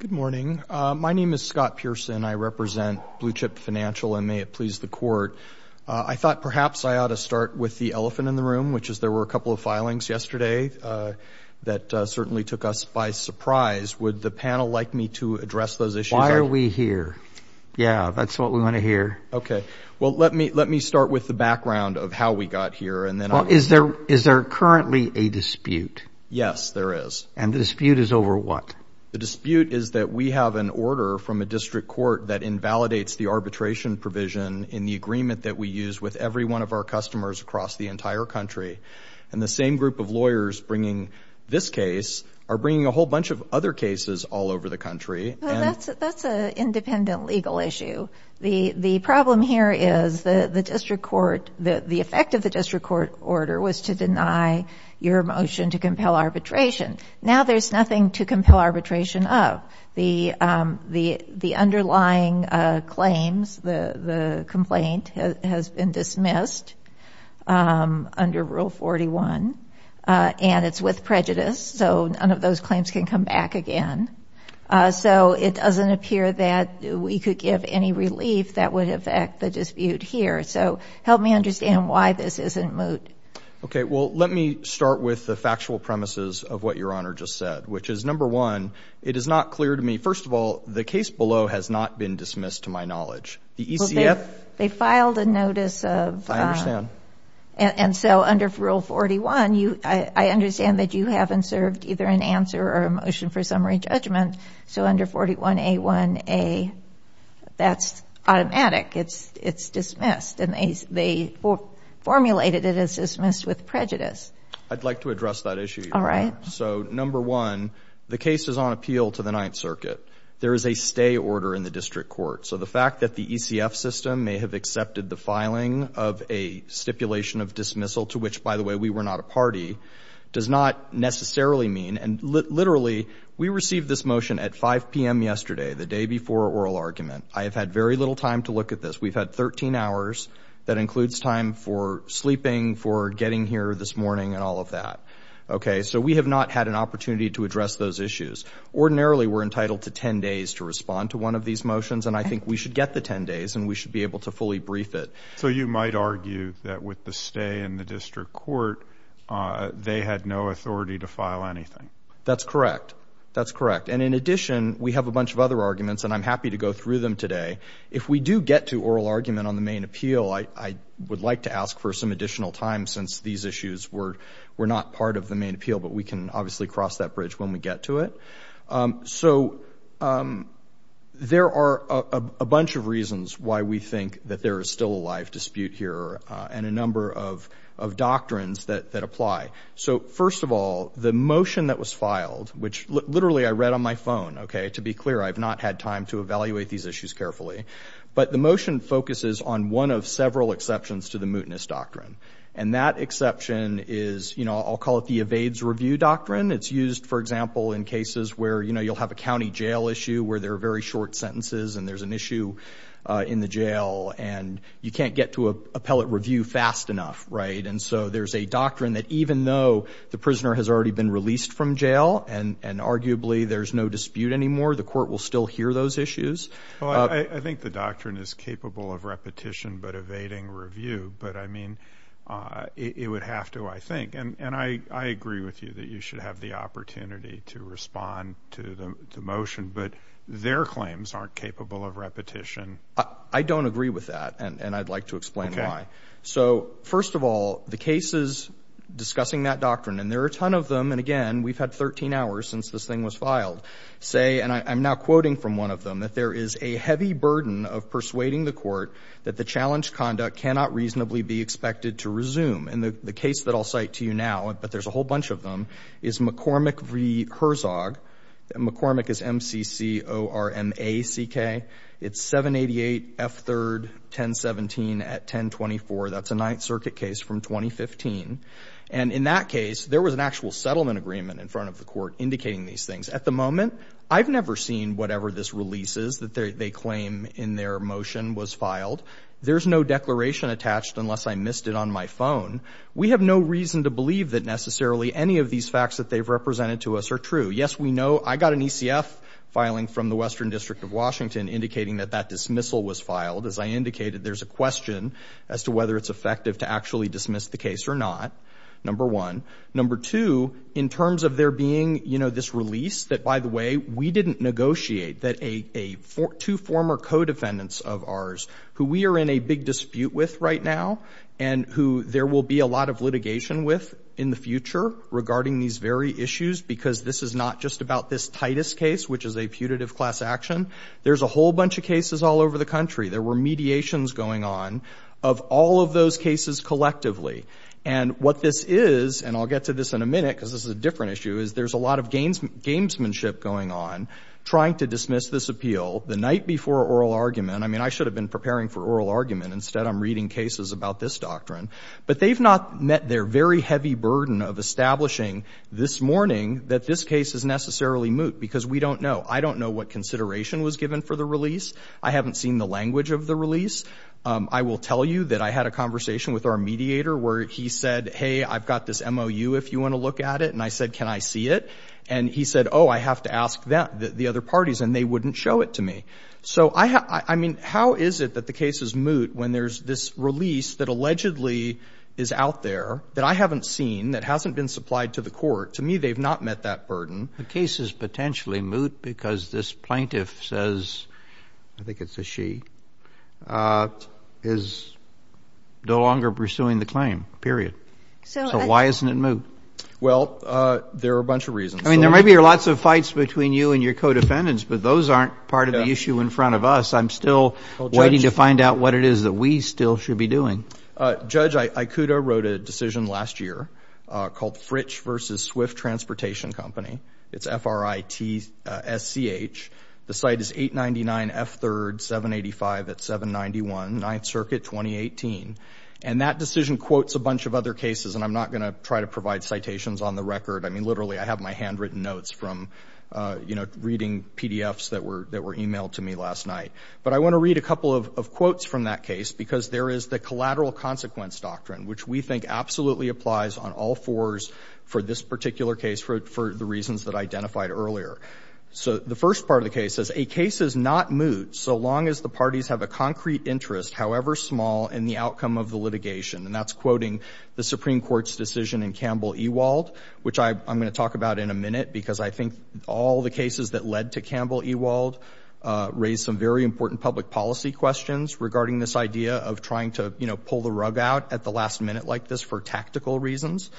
Good morning. My name is Scott Pearson. I represent Blue Chip Financial, and may it please the Court. I thought perhaps I ought to start with the elephant in the room, which is there were a couple of filings yesterday that certainly took us by surprise. Would the panel like me to address those issues? Why are we here? Yeah, that's what we want to hear. Okay. Well, let me start with the background of how we got here, and then I'll answer. Well, is there currently a dispute? Yes, there is. And the dispute is over what? The dispute is that we have an order from a district court that invalidates the arbitration provision in the agreement that we use with every one of our customers across the entire country. And the same group of lawyers bringing this case are bringing a whole bunch of other cases all over the country. Well, that's an independent legal issue. The problem here is the effect of the district court order was to deny your motion to compel arbitration. Now there's nothing to compel arbitration of. The underlying claims, the complaint, has been dismissed under Rule 41, and it's with prejudice, so none of those claims can come back again. So it doesn't appear that we could give any relief that would affect the dispute here. So help me understand why this isn't moot. Okay, well, let me start with the factual premises of what Your Honor just said, which is, number one, it is not clear to me, first of all, the case below has not been dismissed to my knowledge. The ECF ---- Well, they filed a notice of ---- I understand. And so under Rule 41, I understand that you haven't served either an answer or a motion for summary judgment. So under 41A1A, that's automatic. It's dismissed. And they formulated it as dismissed with prejudice. I'd like to address that issue, Your Honor. All right. So, number one, the case is on appeal to the Ninth Circuit. There is a stay order in the district court. So the fact that the ECF system may have accepted the filing of a stipulation of dismissal, to which, by the way, we were not a party, does not necessarily mean ---- Literally, we received this motion at 5 p.m. yesterday, the day before oral argument. I have had very little time to look at this. We've had 13 hours. That includes time for sleeping, for getting here this morning, and all of that. Okay? So we have not had an opportunity to address those issues. Ordinarily, we're entitled to 10 days to respond to one of these motions, and I think we should get the 10 days and we should be able to fully brief it. So you might argue that with the stay in the district court, they had no authority to file anything. That's correct. That's correct. And in addition, we have a bunch of other arguments, and I'm happy to go through them today. If we do get to oral argument on the main appeal, I would like to ask for some additional time since these issues were not part of the main appeal, but we can obviously cross that bridge when we get to it. So there are a bunch of reasons why we think that there is still a live dispute here and a number of doctrines that apply. So first of all, the motion that was filed, which literally I read on my phone, okay, to be clear, I have not had time to evaluate these issues carefully, but the motion focuses on one of several exceptions to the mootness doctrine, and that exception is, you know, I'll call it the evades review doctrine. It's used, for example, in cases where, you know, you'll have a county jail issue where there are very short sentences and there's an issue in the jail and you can't get to an appellate review fast enough, right? And so there's a doctrine that even though the prisoner has already been released from jail and arguably there's no dispute anymore, the court will still hear those issues. Well, I think the doctrine is capable of repetition but evading review, but, I mean, it would have to, I think. And I agree with you that you should have the opportunity to respond to the motion, but their claims aren't capable of repetition. I don't agree with that, and I'd like to explain why. Okay. So first of all, the cases discussing that doctrine, and there are a ton of them, and again, we've had 13 hours since this thing was filed, say, and I'm now quoting from one of them, that there is a heavy burden of persuading the court that the challenge conduct cannot reasonably be expected to resume. And the case that I'll cite to you now, but there's a whole bunch of them, is McCormick v. Herzog. McCormick is M-C-C-O-R-M-A-C-K. It's 788 F3rd 1017 at 1024. That's a Ninth Circuit case from 2015. And in that case, there was an actual settlement agreement in front of the court indicating these things. At the moment, I've never seen whatever this release is that they claim in their motion was filed. There's no declaration attached unless I missed it on my phone. We have no reason to believe that necessarily any of these facts that they've represented to us are true. Yes, we know I got an ECF filing from the Western District of Washington indicating that that dismissal was filed. As I indicated, there's a question as to whether it's effective to actually dismiss the case or not, number one. Number two, in terms of there being, you know, this release that, by the way, we didn't negotiate that two former co-defendants of ours who we are in a big dispute with right now and who there will be a lot of litigation with in the future regarding these very issues because this is not just about this Titus case, which is a putative class action. There's a whole bunch of cases all over the country. There were mediations going on of all of those cases collectively. And what this is, and I'll get to this in a minute because this is a different issue, is there's a lot of gamesmanship going on trying to dismiss this appeal. The night before oral argument, I mean, I should have been preparing for oral argument. Instead, I'm reading cases about this doctrine. But they've not met their very heavy burden of establishing this morning that this case is necessarily moot because we don't know. I don't know what consideration was given for the release. I haven't seen the language of the release. I will tell you that I had a conversation with our mediator where he said, hey, I've got this MOU if you want to look at it. And I said, can I see it? And he said, oh, I have to ask the other parties, and they wouldn't show it to me. So, I mean, how is it that the case is moot when there's this release that allegedly is out there that I haven't seen, that hasn't been supplied to the court? To me, they've not met that burden. The case is potentially moot because this plaintiff says, I think it's a she, is no longer pursuing the claim, period. So why isn't it moot? Well, there are a bunch of reasons. I mean, there might be lots of fights between you and your co-defendants, but those aren't part of the issue in front of us. I'm still waiting to find out what it is that we still should be doing. Judge Ikuda wrote a decision last year called Fritch v. Swift Transportation Company. It's F-R-I-T-S-C-H. The site is 899 F3rd 785 at 791, 9th Circuit, 2018. And that decision quotes a bunch of other cases, and I'm not going to try to provide citations on the record. I mean, literally, I have my handwritten notes from, you know, reading PDFs that were e-mailed to me last night. But I want to read a couple of quotes from that case because there is the collateral consequence doctrine, which we think absolutely applies on all fours for this particular case for the reasons that I identified earlier. So the first part of the case says, a case is not moot so long as the parties have a concrete interest, however small, in the outcome of the litigation. And that's quoting the Supreme Court's decision in Campbell-Ewald, which I'm going to talk about in a minute because I think all the cases that led to Campbell-Ewald raise some very important public policy questions regarding this idea of trying to, you know, pull the rug out at the last minute like this for tactical reasons.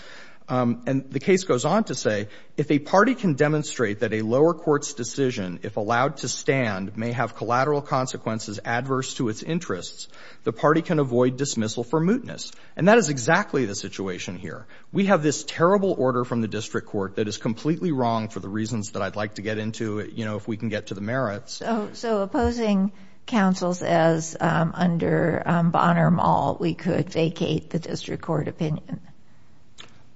And the case goes on to say, if a party can demonstrate that a lower court's decision, if allowed to stand, may have collateral consequences adverse to its interests, the party can avoid dismissal for mootness. And that is exactly the situation here. We have this terrible order from the district court that is completely wrong for the reasons that I'd like to get into, you know, if we can get to the merits. So opposing counsel says, under Bonner-Mall, we could vacate the district court opinion.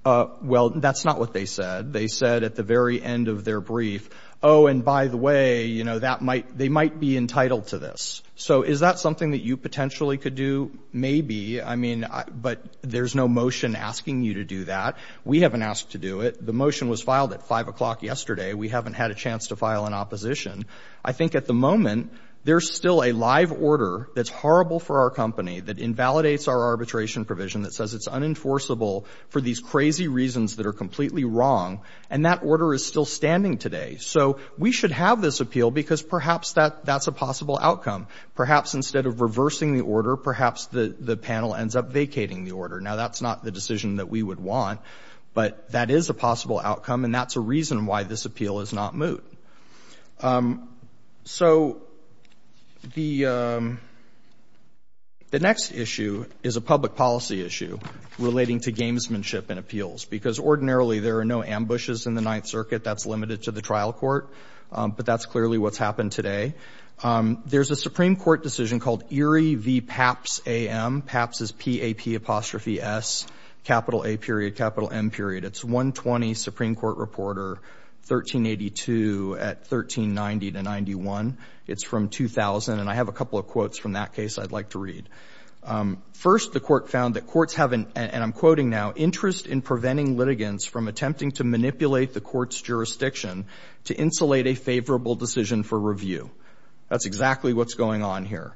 Well, that's not what they said. They said at the very end of their brief, oh, and by the way, you know, that might, they might be entitled to this. So is that something that you potentially could do? Maybe. I mean, but there's no motion asking you to do that. We haven't asked to do it. The motion was filed at 5 o'clock yesterday. We haven't had a chance to file an opposition. I think at the moment, there's still a live order that's horrible for our company that invalidates our arbitration provision that says it's unenforceable for these crazy reasons that are completely wrong, and that order is still standing today. So we should have this appeal because perhaps that's a possible outcome. Perhaps instead of reversing the order, perhaps the panel ends up vacating the order. Now, that's not the decision that we would want, but that is a possible outcome, and that's a reason why this appeal is not moot. So the next issue is a public policy issue relating to gamesmanship and appeals because ordinarily there are no ambushes in the Ninth Circuit. That's limited to the trial court, but that's clearly what's happened today. There's a Supreme Court decision called Erie v. Papps A.M. Papps is P-A-P-apostrophe-S, capital A period, capital M period. It's 120 Supreme Court reporter, 1382 at 1390 to 91. It's from 2000, and I have a couple of quotes from that case I'd like to read. First, the court found that courts have an, and I'm quoting now, interest in preventing litigants from attempting to manipulate the court's jurisdiction to insulate a favorable decision for review. That's exactly what's going on here.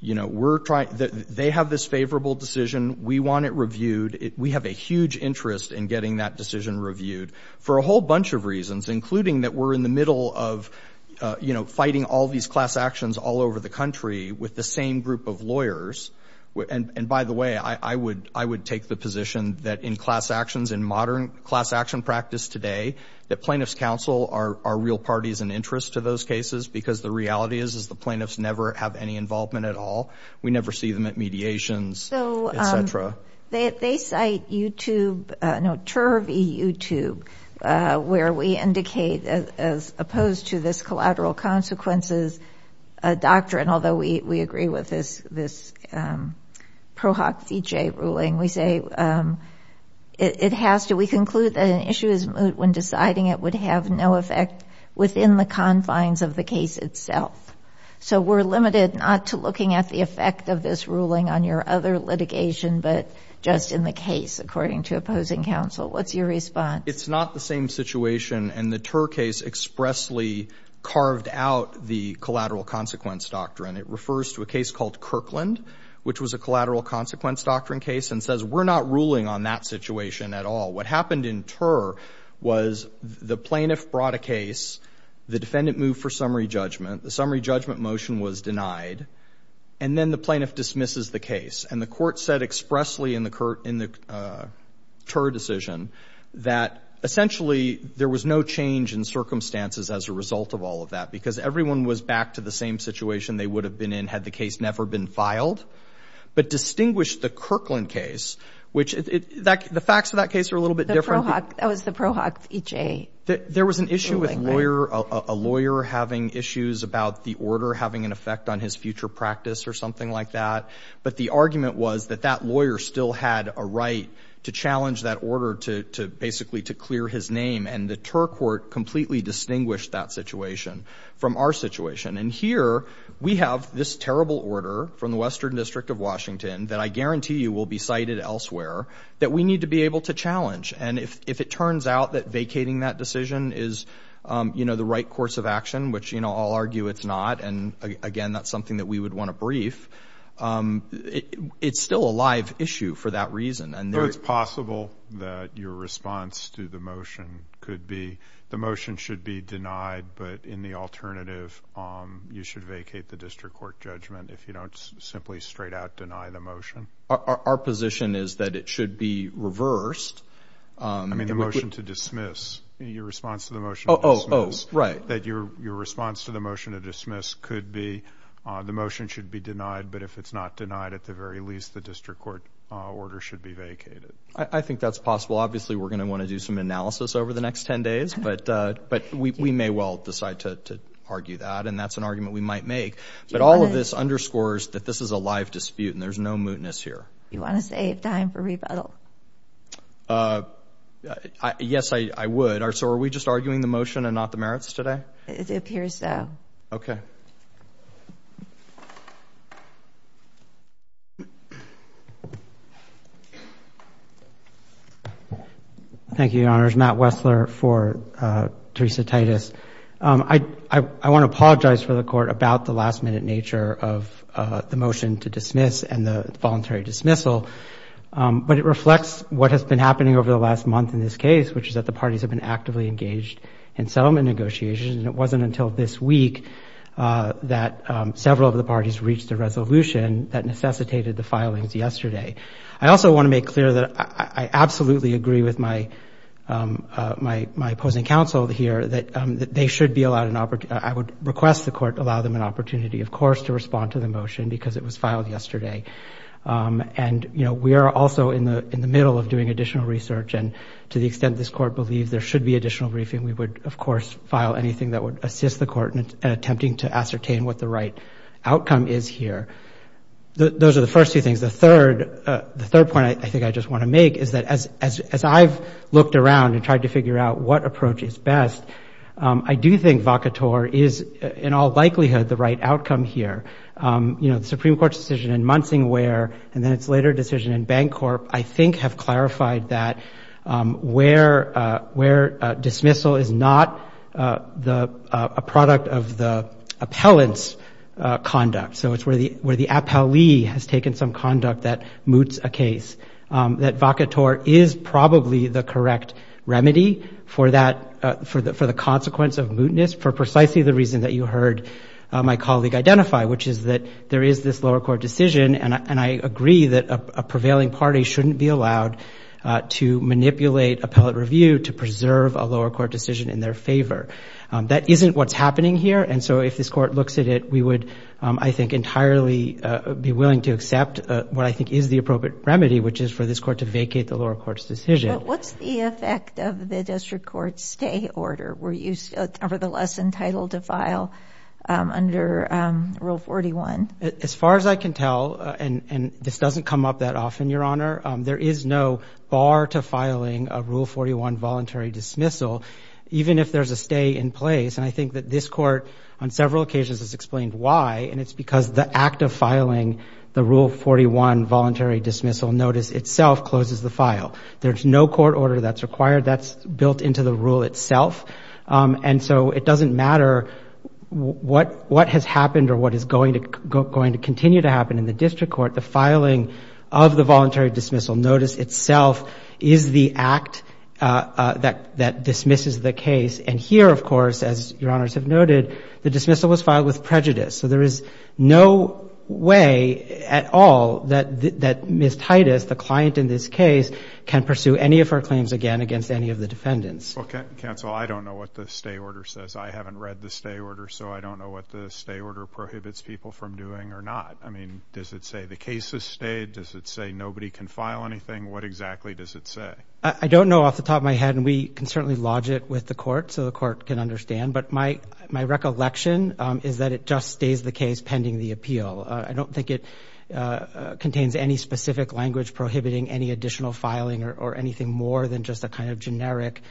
They have this favorable decision. We want it reviewed. We have a huge interest in getting that decision reviewed for a whole bunch of reasons, including that we're in the middle of, you know, fighting all these class actions all over the country with the same group of lawyers. And by the way, I would take the position that in class actions, in modern class action practice today, that plaintiffs' counsel are real parties and interest to those cases because the reality is We never see them at mediations, et cetera. They cite YouTube, no, Turvey YouTube, where we indicate, as opposed to this collateral consequences doctrine, although we agree with this ProHoc v. J ruling, we say it has to, we conclude that an issue is moot when deciding it would have no effect within the confines of the case itself. So we're limited not to looking at the effect of this ruling on your other litigation, but just in the case, according to opposing counsel. What's your response? It's not the same situation, and the Tur case expressly carved out the collateral consequence doctrine. It refers to a case called Kirkland, which was a collateral consequence doctrine case, and says we're not ruling on that situation at all. What happened in Tur was the plaintiff brought a case, the defendant moved for summary judgment, the summary judgment motion was denied, and then the plaintiff dismisses the case, and the court said expressly in the Tur decision that essentially there was no change in circumstances as a result of all of that, because everyone was back to the same situation they would have been in had the case never been filed, but distinguished the Kirkland case, which the facts of that case are a little bit different. The ProHoc, that was the ProHoc v. J. There was an issue with a lawyer having issues about the order or having an effect on his future practice or something like that, but the argument was that that lawyer still had a right to challenge that order to basically to clear his name, and the Tur court completely distinguished that situation from our situation, and here we have this terrible order from the Western District of Washington that I guarantee you will be cited elsewhere that we need to be able to challenge, and if it turns out that vacating that decision is the right course of action, which I'll argue it's not, and again that's something that we would want to brief, it's still a live issue for that reason. So it's possible that your response to the motion could be the motion should be denied, but in the alternative you should vacate the district court judgment if you don't simply straight out deny the motion? Our position is that it should be reversed. I mean the motion to dismiss, your response to the motion to dismiss, that your response to the motion to dismiss could be the motion should be denied, but if it's not denied at the very least the district court order should be vacated. I think that's possible. Obviously we're going to want to do some analysis over the next 10 days, but we may well decide to argue that, and that's an argument we might make, but all of this underscores that this is a live dispute, and there's no mootness here. You want to save time for rebuttal? Yes, I would. So are we just arguing the motion and not the merits today? It appears so. Okay. Thank you, Your Honors. Matt Wessler for Teresa Titus. I want to apologize for the Court about the last-minute nature of the motion to dismiss and the voluntary dismissal, but it reflects what has been happening over the last month in this case, which is that the parties have been actively engaged in settlement negotiations, and it wasn't until this week that several of the parties reached a resolution that necessitated the filings yesterday. I also want to make clear that I absolutely agree with my opposing counsel here that they should be allowed an opportunity. I would request the Court to allow them an opportunity, of course, to respond to the motion because it was filed yesterday, and we are also in the middle of doing additional research, and to the extent this Court believes there should be additional briefing, we would, of course, file anything that would assist the Court in attempting to ascertain what the right outcome is here. Those are the first two things. The third point I think I just want to make is that as I've looked around and tried to figure out what approach is best, I do think Vacator is in all likelihood the right outcome here. You know, the Supreme Court's decision in Munsingware and then its later decision in Bancorp I think have clarified that where dismissal is not a product of the appellant's conduct, so it's where the appellee has taken some conduct that moots a case, that Vacator is probably the correct remedy for the consequence of mootness for precisely the reason that you heard my colleague identify, which is that there is this lower court decision, and I agree that a prevailing party shouldn't be allowed to manipulate appellate review to preserve a lower court decision in their favor. That isn't what's happening here, and so if this Court looks at it, we would, I think, entirely be willing to accept what I think is the appropriate remedy, which is for this Court to vacate the lower court's decision. But what's the effect of the District Court's stay order? Were you nevertheless entitled to file under Rule 41? As far as I can tell, and this doesn't come up that often, Your Honor, there is no bar to filing a Rule 41 voluntary dismissal, even if there's a stay in place, and I think that this Court on several occasions has explained why, and it's because the act of filing the Rule 41 voluntary dismissal notice itself closes the file. There's no court order that's required. That's built into the rule itself, and so it doesn't matter what has happened or what is going to continue to happen in the District Court. The filing of the voluntary dismissal notice itself is the act that dismisses the case, and here, of course, as Your Honors have noted, the dismissal was filed with prejudice. So there is no way at all that Ms. Titus, the client in this case, can pursue any of her claims again against any of the defendants. Well, counsel, I don't know what the stay order says. I haven't read the stay order, so I don't know what the stay order prohibits people from doing or not. I mean, does it say the case has stayed? Does it say nobody can file anything? What exactly does it say? I don't know off the top of my head, and we can certainly lodge it with the Court so the Court can understand, but my recollection is that it just stays the case pending the appeal. I don't think it contains any specific language prohibiting any additional filing or anything more than just a kind of generic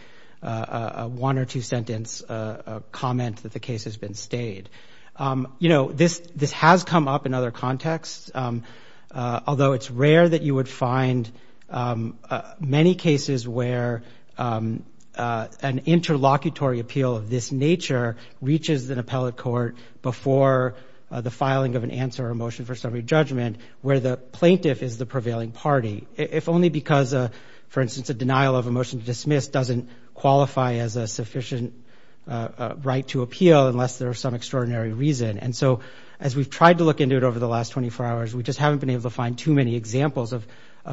one or two-sentence comment that the case has been stayed. You know, this has come up in other contexts, although it's rare that you would find many cases where an interlocutory appeal of this nature reaches an appellate court before the filing of an answer or a motion for summary judgment where the plaintiff is the prevailing party, if only because, for instance, a denial of a motion to dismiss doesn't qualify as a sufficient right to appeal unless there is some extraordinary reason. And so as we've tried to look into it over the last 24 hours, we just haven't been able to find too many examples of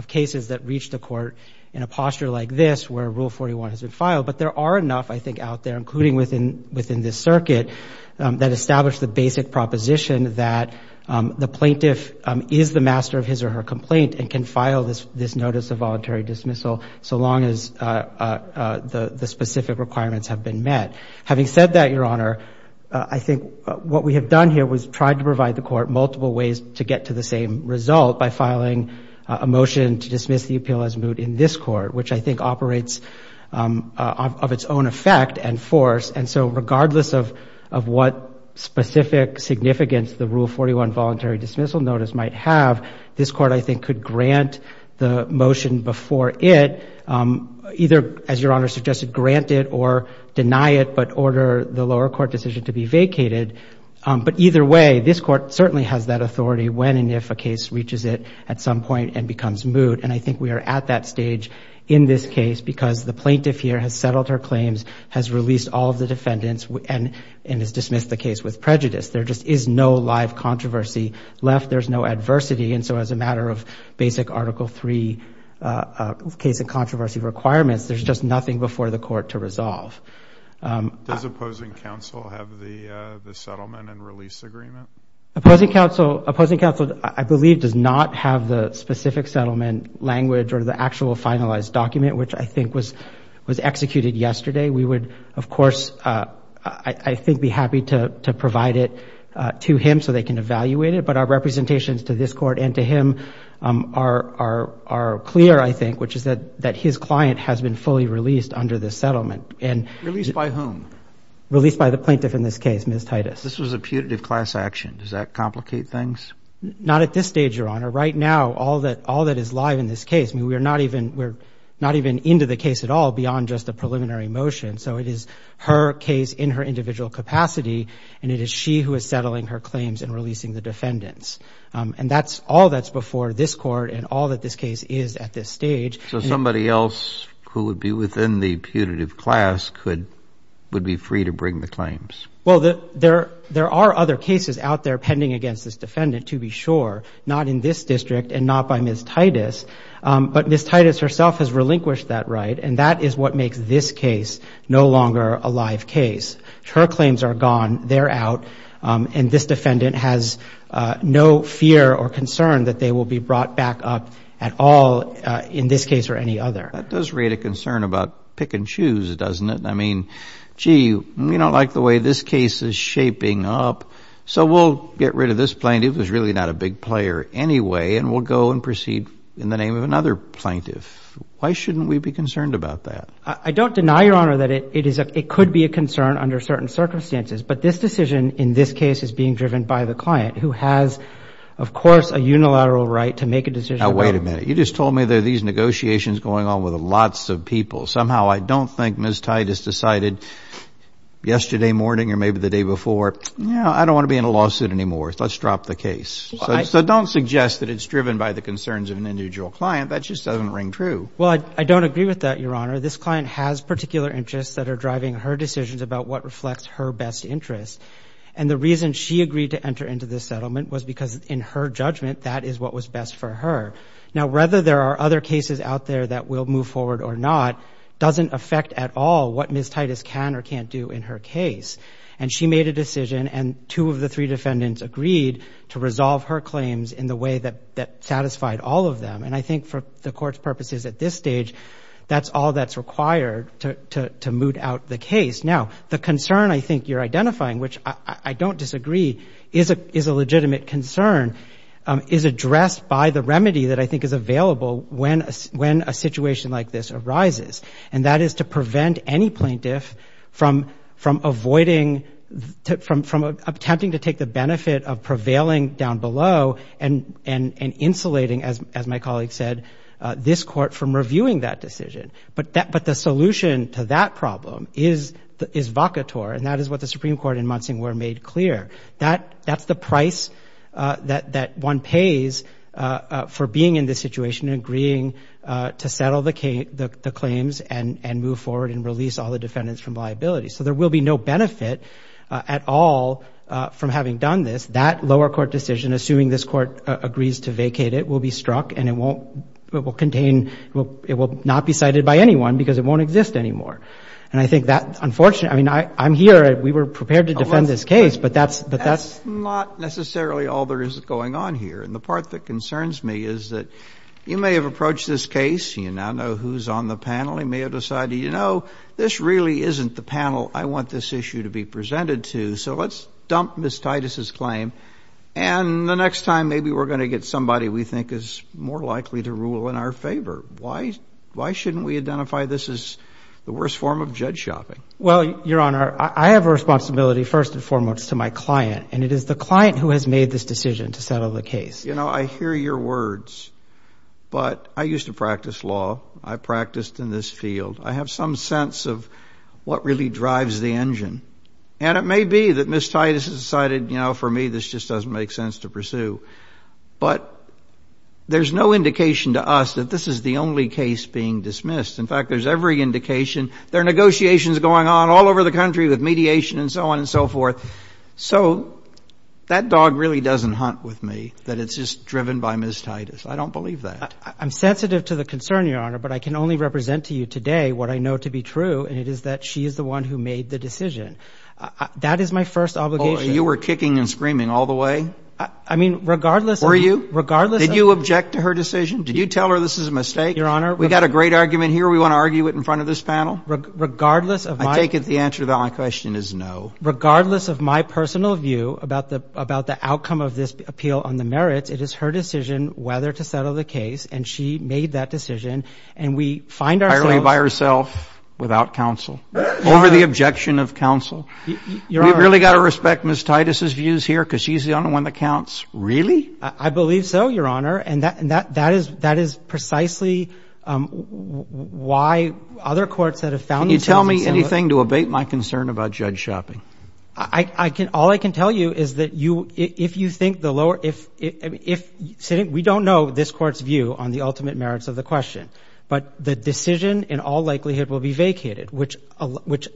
cases that reach the Court in a posture like this where Rule 41 has been filed. But there are enough, I think, out there, including within this circuit, that establish the basic proposition that the plaintiff is the master of his or her complaint and can file this notice of voluntary dismissal so long as the specific requirements have been met. Having said that, Your Honor, I think what we have done here was tried to provide the Court multiple ways to get to the same result by filing a motion to dismiss the appeal as moot in this Court, which I think operates of its own effect and force. And so regardless of what specific significance the Rule 41 voluntary dismissal notice might have, this Court, I think, could grant the motion before it, either, as Your Honor suggested, grant it or deny it, but order the lower court decision to be vacated. But either way, this Court certainly has that authority when and if a case reaches it at some point and becomes moot. And I think we are at that stage in this case because the plaintiff here has settled her claims, has released all of the defendants, and has dismissed the case with prejudice. There just is no live controversy left. There's no adversity. And so as a matter of basic Article III case and controversy requirements, there's just nothing before the Court to resolve. Does opposing counsel have the settlement and release agreement? Opposing counsel, I believe, does not have the specific settlement language or the actual finalized document, which I think was executed yesterday. We would, of course, I think be happy to provide it to him so they can evaluate it. But our representations to this Court and to him are clear, I think, which is that his client has been fully released under this settlement. Released by whom? Released by the plaintiff in this case, Ms. Titus. This was a putative class action. Does that complicate things? Not at this stage, Your Honor. Right now, all that is live in this case, I mean, we're not even into the case at all beyond just the preliminary motion. So it is her case in her individual capacity, and it is she who is settling her claims and releasing the defendants. And that's all that's before this Court and all that this case is at this stage. So somebody else who would be within the putative class would be free to bring the claims? Well, there are other cases out there pending against this defendant, to be sure, not in this district and not by Ms. Titus. But Ms. Titus herself has relinquished that right, and that is what makes this case no longer a live case. Her claims are gone. They're out. And this defendant has no fear or concern that they will be brought back up at all in this case or any other. That does raise a concern about pick and choose, doesn't it? I mean, gee, we don't like the way this case is shaping up, so we'll get rid of this plaintiff who's really not a big player anyway, and we'll go and proceed in the name of another plaintiff. Why shouldn't we be concerned about that? I don't deny, Your Honor, that it could be a concern under certain circumstances, but this decision in this case is being driven by the client who has, of course, a unilateral right to make a decision about it. Now, wait a minute. You just told me there are these negotiations going on with lots of people. Somehow I don't think Ms. Titus decided yesterday morning or maybe the day before, you know, I don't want to be in a lawsuit anymore. Let's drop the case. So don't suggest that it's driven by the concerns of an individual client. That just doesn't ring true. Well, I don't agree with that, Your Honor. This client has particular interests that are driving her decisions about what reflects her best interests, and the reason she agreed to enter into this settlement was because in her judgment that is what was best for her. Now, whether there are other cases out there that will move forward or not doesn't affect at all what Ms. Titus can or can't do in her case, and she made a decision and two of the three defendants agreed to resolve her claims in the way that satisfied all of them, and I think for the Court's purposes at this stage, that's all that's required to moot out the case. Now, the concern I think you're identifying, which I don't disagree is a legitimate concern, is addressed by the remedy that I think is available when a situation like this arises, and that is to prevent any plaintiff from avoiding, from attempting to take the benefit of prevailing down below and insulating, as my colleague said, this Court from reviewing that decision. But the solution to that problem is vaca tor, and that is what the Supreme Court in Munsing were made clear. That's the price that one pays for being in this situation and agreeing to settle the claims and move forward and release all the defendants from liability. So there will be no benefit at all from having done this, and that lower court decision, assuming this Court agrees to vacate it, will be struck and it won't contain, it will not be cited by anyone because it won't exist anymore. And I think that's unfortunate. I mean, I'm here. We were prepared to defend this case, but that's not necessarily all there is going on here. And the part that concerns me is that you may have approached this case, and you now know who's on the panel. You may have decided, you know, this really isn't the panel I want this issue to be presented to, so let's dump Ms. Titus's claim, and the next time maybe we're going to get somebody we think is more likely to rule in our favor. Why shouldn't we identify this as the worst form of judge shopping? Well, Your Honor, I have a responsibility first and foremost to my client, and it is the client who has made this decision to settle the case. You know, I hear your words, but I used to practice law. I practiced in this field. I have some sense of what really drives the engine. And it may be that Ms. Titus has decided, you know, for me this just doesn't make sense to pursue. But there's no indication to us that this is the only case being dismissed. In fact, there's every indication. There are negotiations going on all over the country with mediation and so on and so forth. So that dog really doesn't hunt with me, that it's just driven by Ms. Titus. I don't believe that. I'm sensitive to the concern, Your Honor, but I can only represent to you today what I know to be true, and it is that she is the one who made the decision. That is my first obligation. Oh, you were kicking and screaming all the way? I mean, regardless of the – Were you? Regardless of – Did you object to her decision? Did you tell her this is a mistake? Your Honor – We've got a great argument here. We want to argue it in front of this panel? Regardless of my – I take it the answer to that question is no. Regardless of my personal view about the outcome of this appeal on the merits, it is her decision whether to settle the case, and she made that decision. And we find ourselves – over the objection of counsel. Your Honor – We've really got to respect Ms. Titus' views here because she's the only one that counts? Really? I believe so, Your Honor, and that is precisely why other courts that have found themselves in similar – Can you tell me anything to abate my concern about Judge Schoeping? I can – all I can tell you is that you – if you think the lower – if – we don't know this court's view on the ultimate merits of the question. But the decision in all likelihood will be vacated, which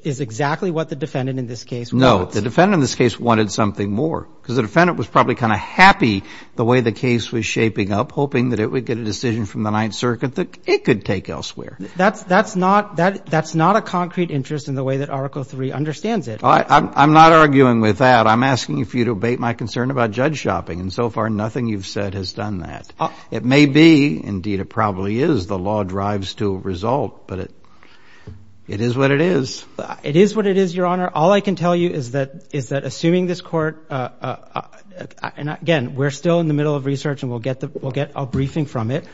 is exactly what the defendant in this case wants. No, the defendant in this case wanted something more, because the defendant was probably kind of happy the way the case was shaping up, hoping that it would get a decision from the Ninth Circuit that it could take elsewhere. That's not a concrete interest in the way that Article III understands it. I'm not arguing with that. I'm asking you for you to abate my concern about Judge Schoeping, and so far nothing you've said has done that. It may be, indeed it probably is, the law drives to a result, but it is what it is. It is what it is, Your Honor. All I can tell you is that assuming this court – and again, we're still in the middle of research and we'll get a briefing from it,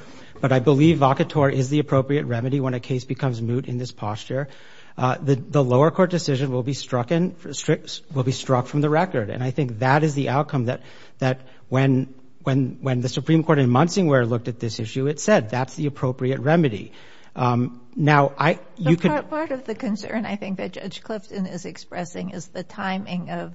but I believe vocator is the appropriate remedy when a case becomes moot in this posture. The lower court decision will be struck from the record, and I think that is the outcome that when the Supreme Court in Munsingware looked at this issue, it said that's the appropriate remedy. Now, you could – But part of the concern I think that Judge Clifton is expressing is the timing of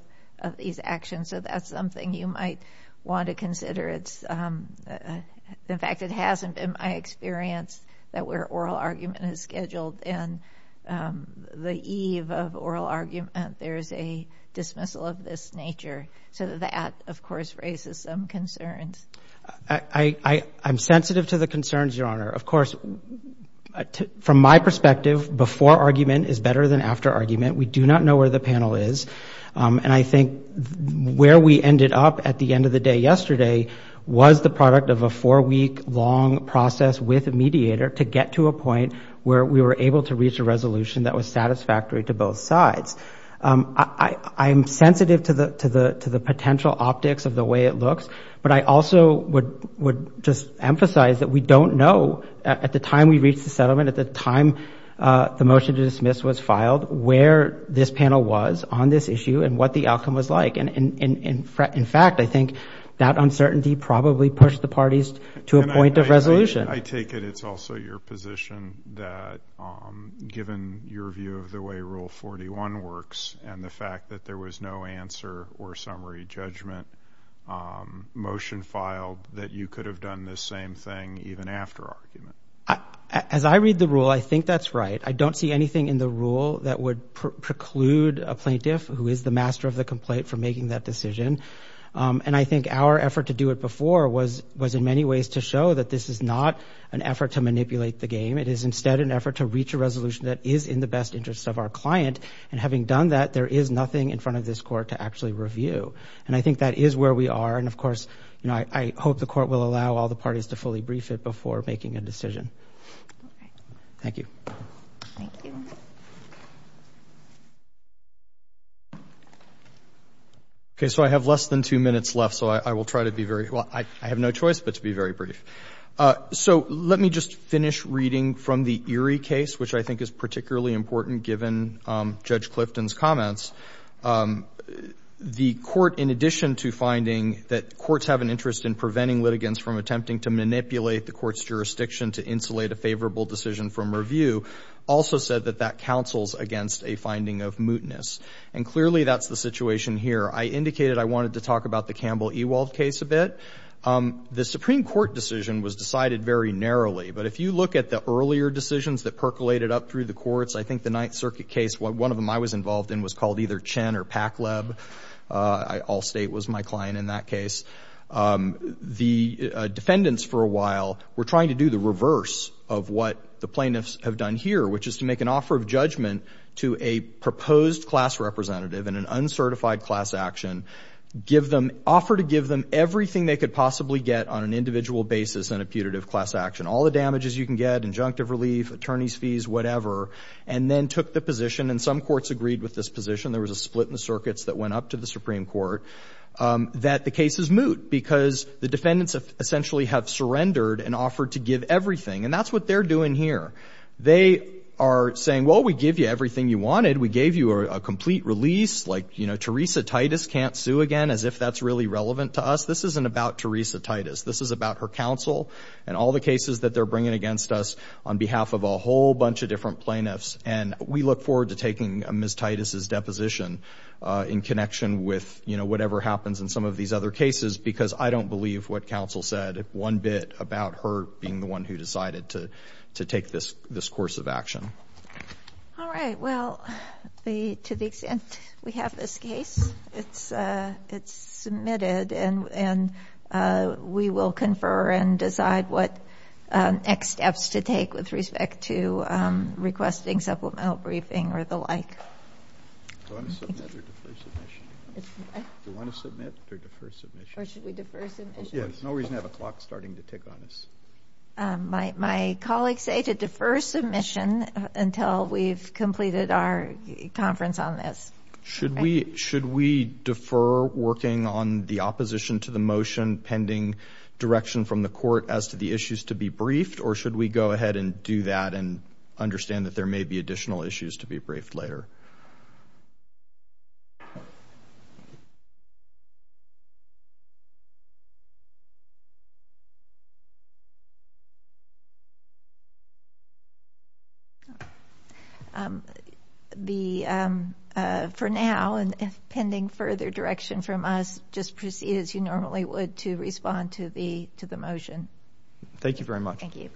these actions, so that's something you might want to consider. In fact, it hasn't been my experience that where oral argument is scheduled, within the eve of oral argument, there's a dismissal of this nature. So that, of course, raises some concerns. I'm sensitive to the concerns, Your Honor. Of course, from my perspective, before argument is better than after argument. We do not know where the panel is, and I think where we ended up at the end of the day yesterday was the product of a four-week-long process with a mediator to get to a point where we were able to reach a resolution that was satisfactory to both sides. I am sensitive to the potential optics of the way it looks, but I also would just emphasize that we don't know at the time we reached the settlement, at the time the motion to dismiss was filed, where this panel was on this issue and what the outcome was like. In fact, I think that uncertainty probably pushed the parties to a point of resolution. I take it it's also your position that, given your view of the way Rule 41 works and the fact that there was no answer or summary judgment motion filed, that you could have done this same thing even after argument. As I read the rule, I think that's right. I don't see anything in the rule that would preclude a plaintiff, who is the master of the complaint, from making that decision. And I think our effort to do it before was, in many ways, to show that this is not an effort to manipulate the game. It is, instead, an effort to reach a resolution that is in the best interest of our client. And having done that, there is nothing in front of this Court to actually review. And I think that is where we are. And, of course, I hope the Court will allow all the parties to fully brief it before making a decision. Thank you. Thank you. Okay. So I have less than two minutes left, so I will try to be very brief. Well, I have no choice but to be very brief. So let me just finish reading from the Erie case, which I think is particularly important given Judge Clifton's comments. The Court, in addition to finding that courts have an interest in preventing litigants from attempting to manipulate the Court's jurisdiction to insulate a favorable decision from review, also said that that counsels against a finding of mootness. And clearly that's the situation here. I indicated I wanted to talk about the Campbell-Ewald case a bit. The Supreme Court decision was decided very narrowly. But if you look at the earlier decisions that percolated up through the courts, I think the Ninth Circuit case, one of them I was involved in, was called either Chen or Pakleb. Allstate was my client in that case. The defendants, for a while, were trying to do the reverse of what the plaintiffs have done here, which is to make an offer of judgment to a proposed class representative in an uncertified class action, offer to give them everything they could possibly get on an individual basis in a putative class action, all the damages you can get, injunctive relief, attorney's fees, whatever, and then took the position, and some courts agreed with this position, there was a split in the circuits that went up to the Supreme Court, that the cases moot, because the defendants essentially have surrendered and offered to give everything. And that's what they're doing here. They are saying, well, we give you everything you wanted, we gave you a complete release, like, you know, Teresa Titus can't sue again, as if that's really relevant to us. This isn't about Teresa Titus. This is about her counsel and all the cases that they're bringing against us on behalf of a whole bunch of different plaintiffs. And we look forward to taking Ms. Titus' deposition in connection with, you know, whatever happens in some of these other cases, because I don't believe what counsel said is one bit about her being the one who decided to take this course of action. All right. Well, to the extent we have this case, it's submitted, and we will confer and decide what next steps to take with respect to requesting supplemental briefing or the like. Do you want to submit or defer submission? Do you want to submit or defer submission? Or should we defer submission? Yes. No reason to have a clock starting to tick on this. My colleagues say to defer submission until we've completed our conference on this. Should we defer working on the opposition to the motion pending direction from the court as to the issues to be briefed, or should we go ahead and do that and understand that there may be additional issues to be briefed later? For now, and pending further direction from us, just proceed as you normally would to respond to the motion. Thank you very much. Thank you.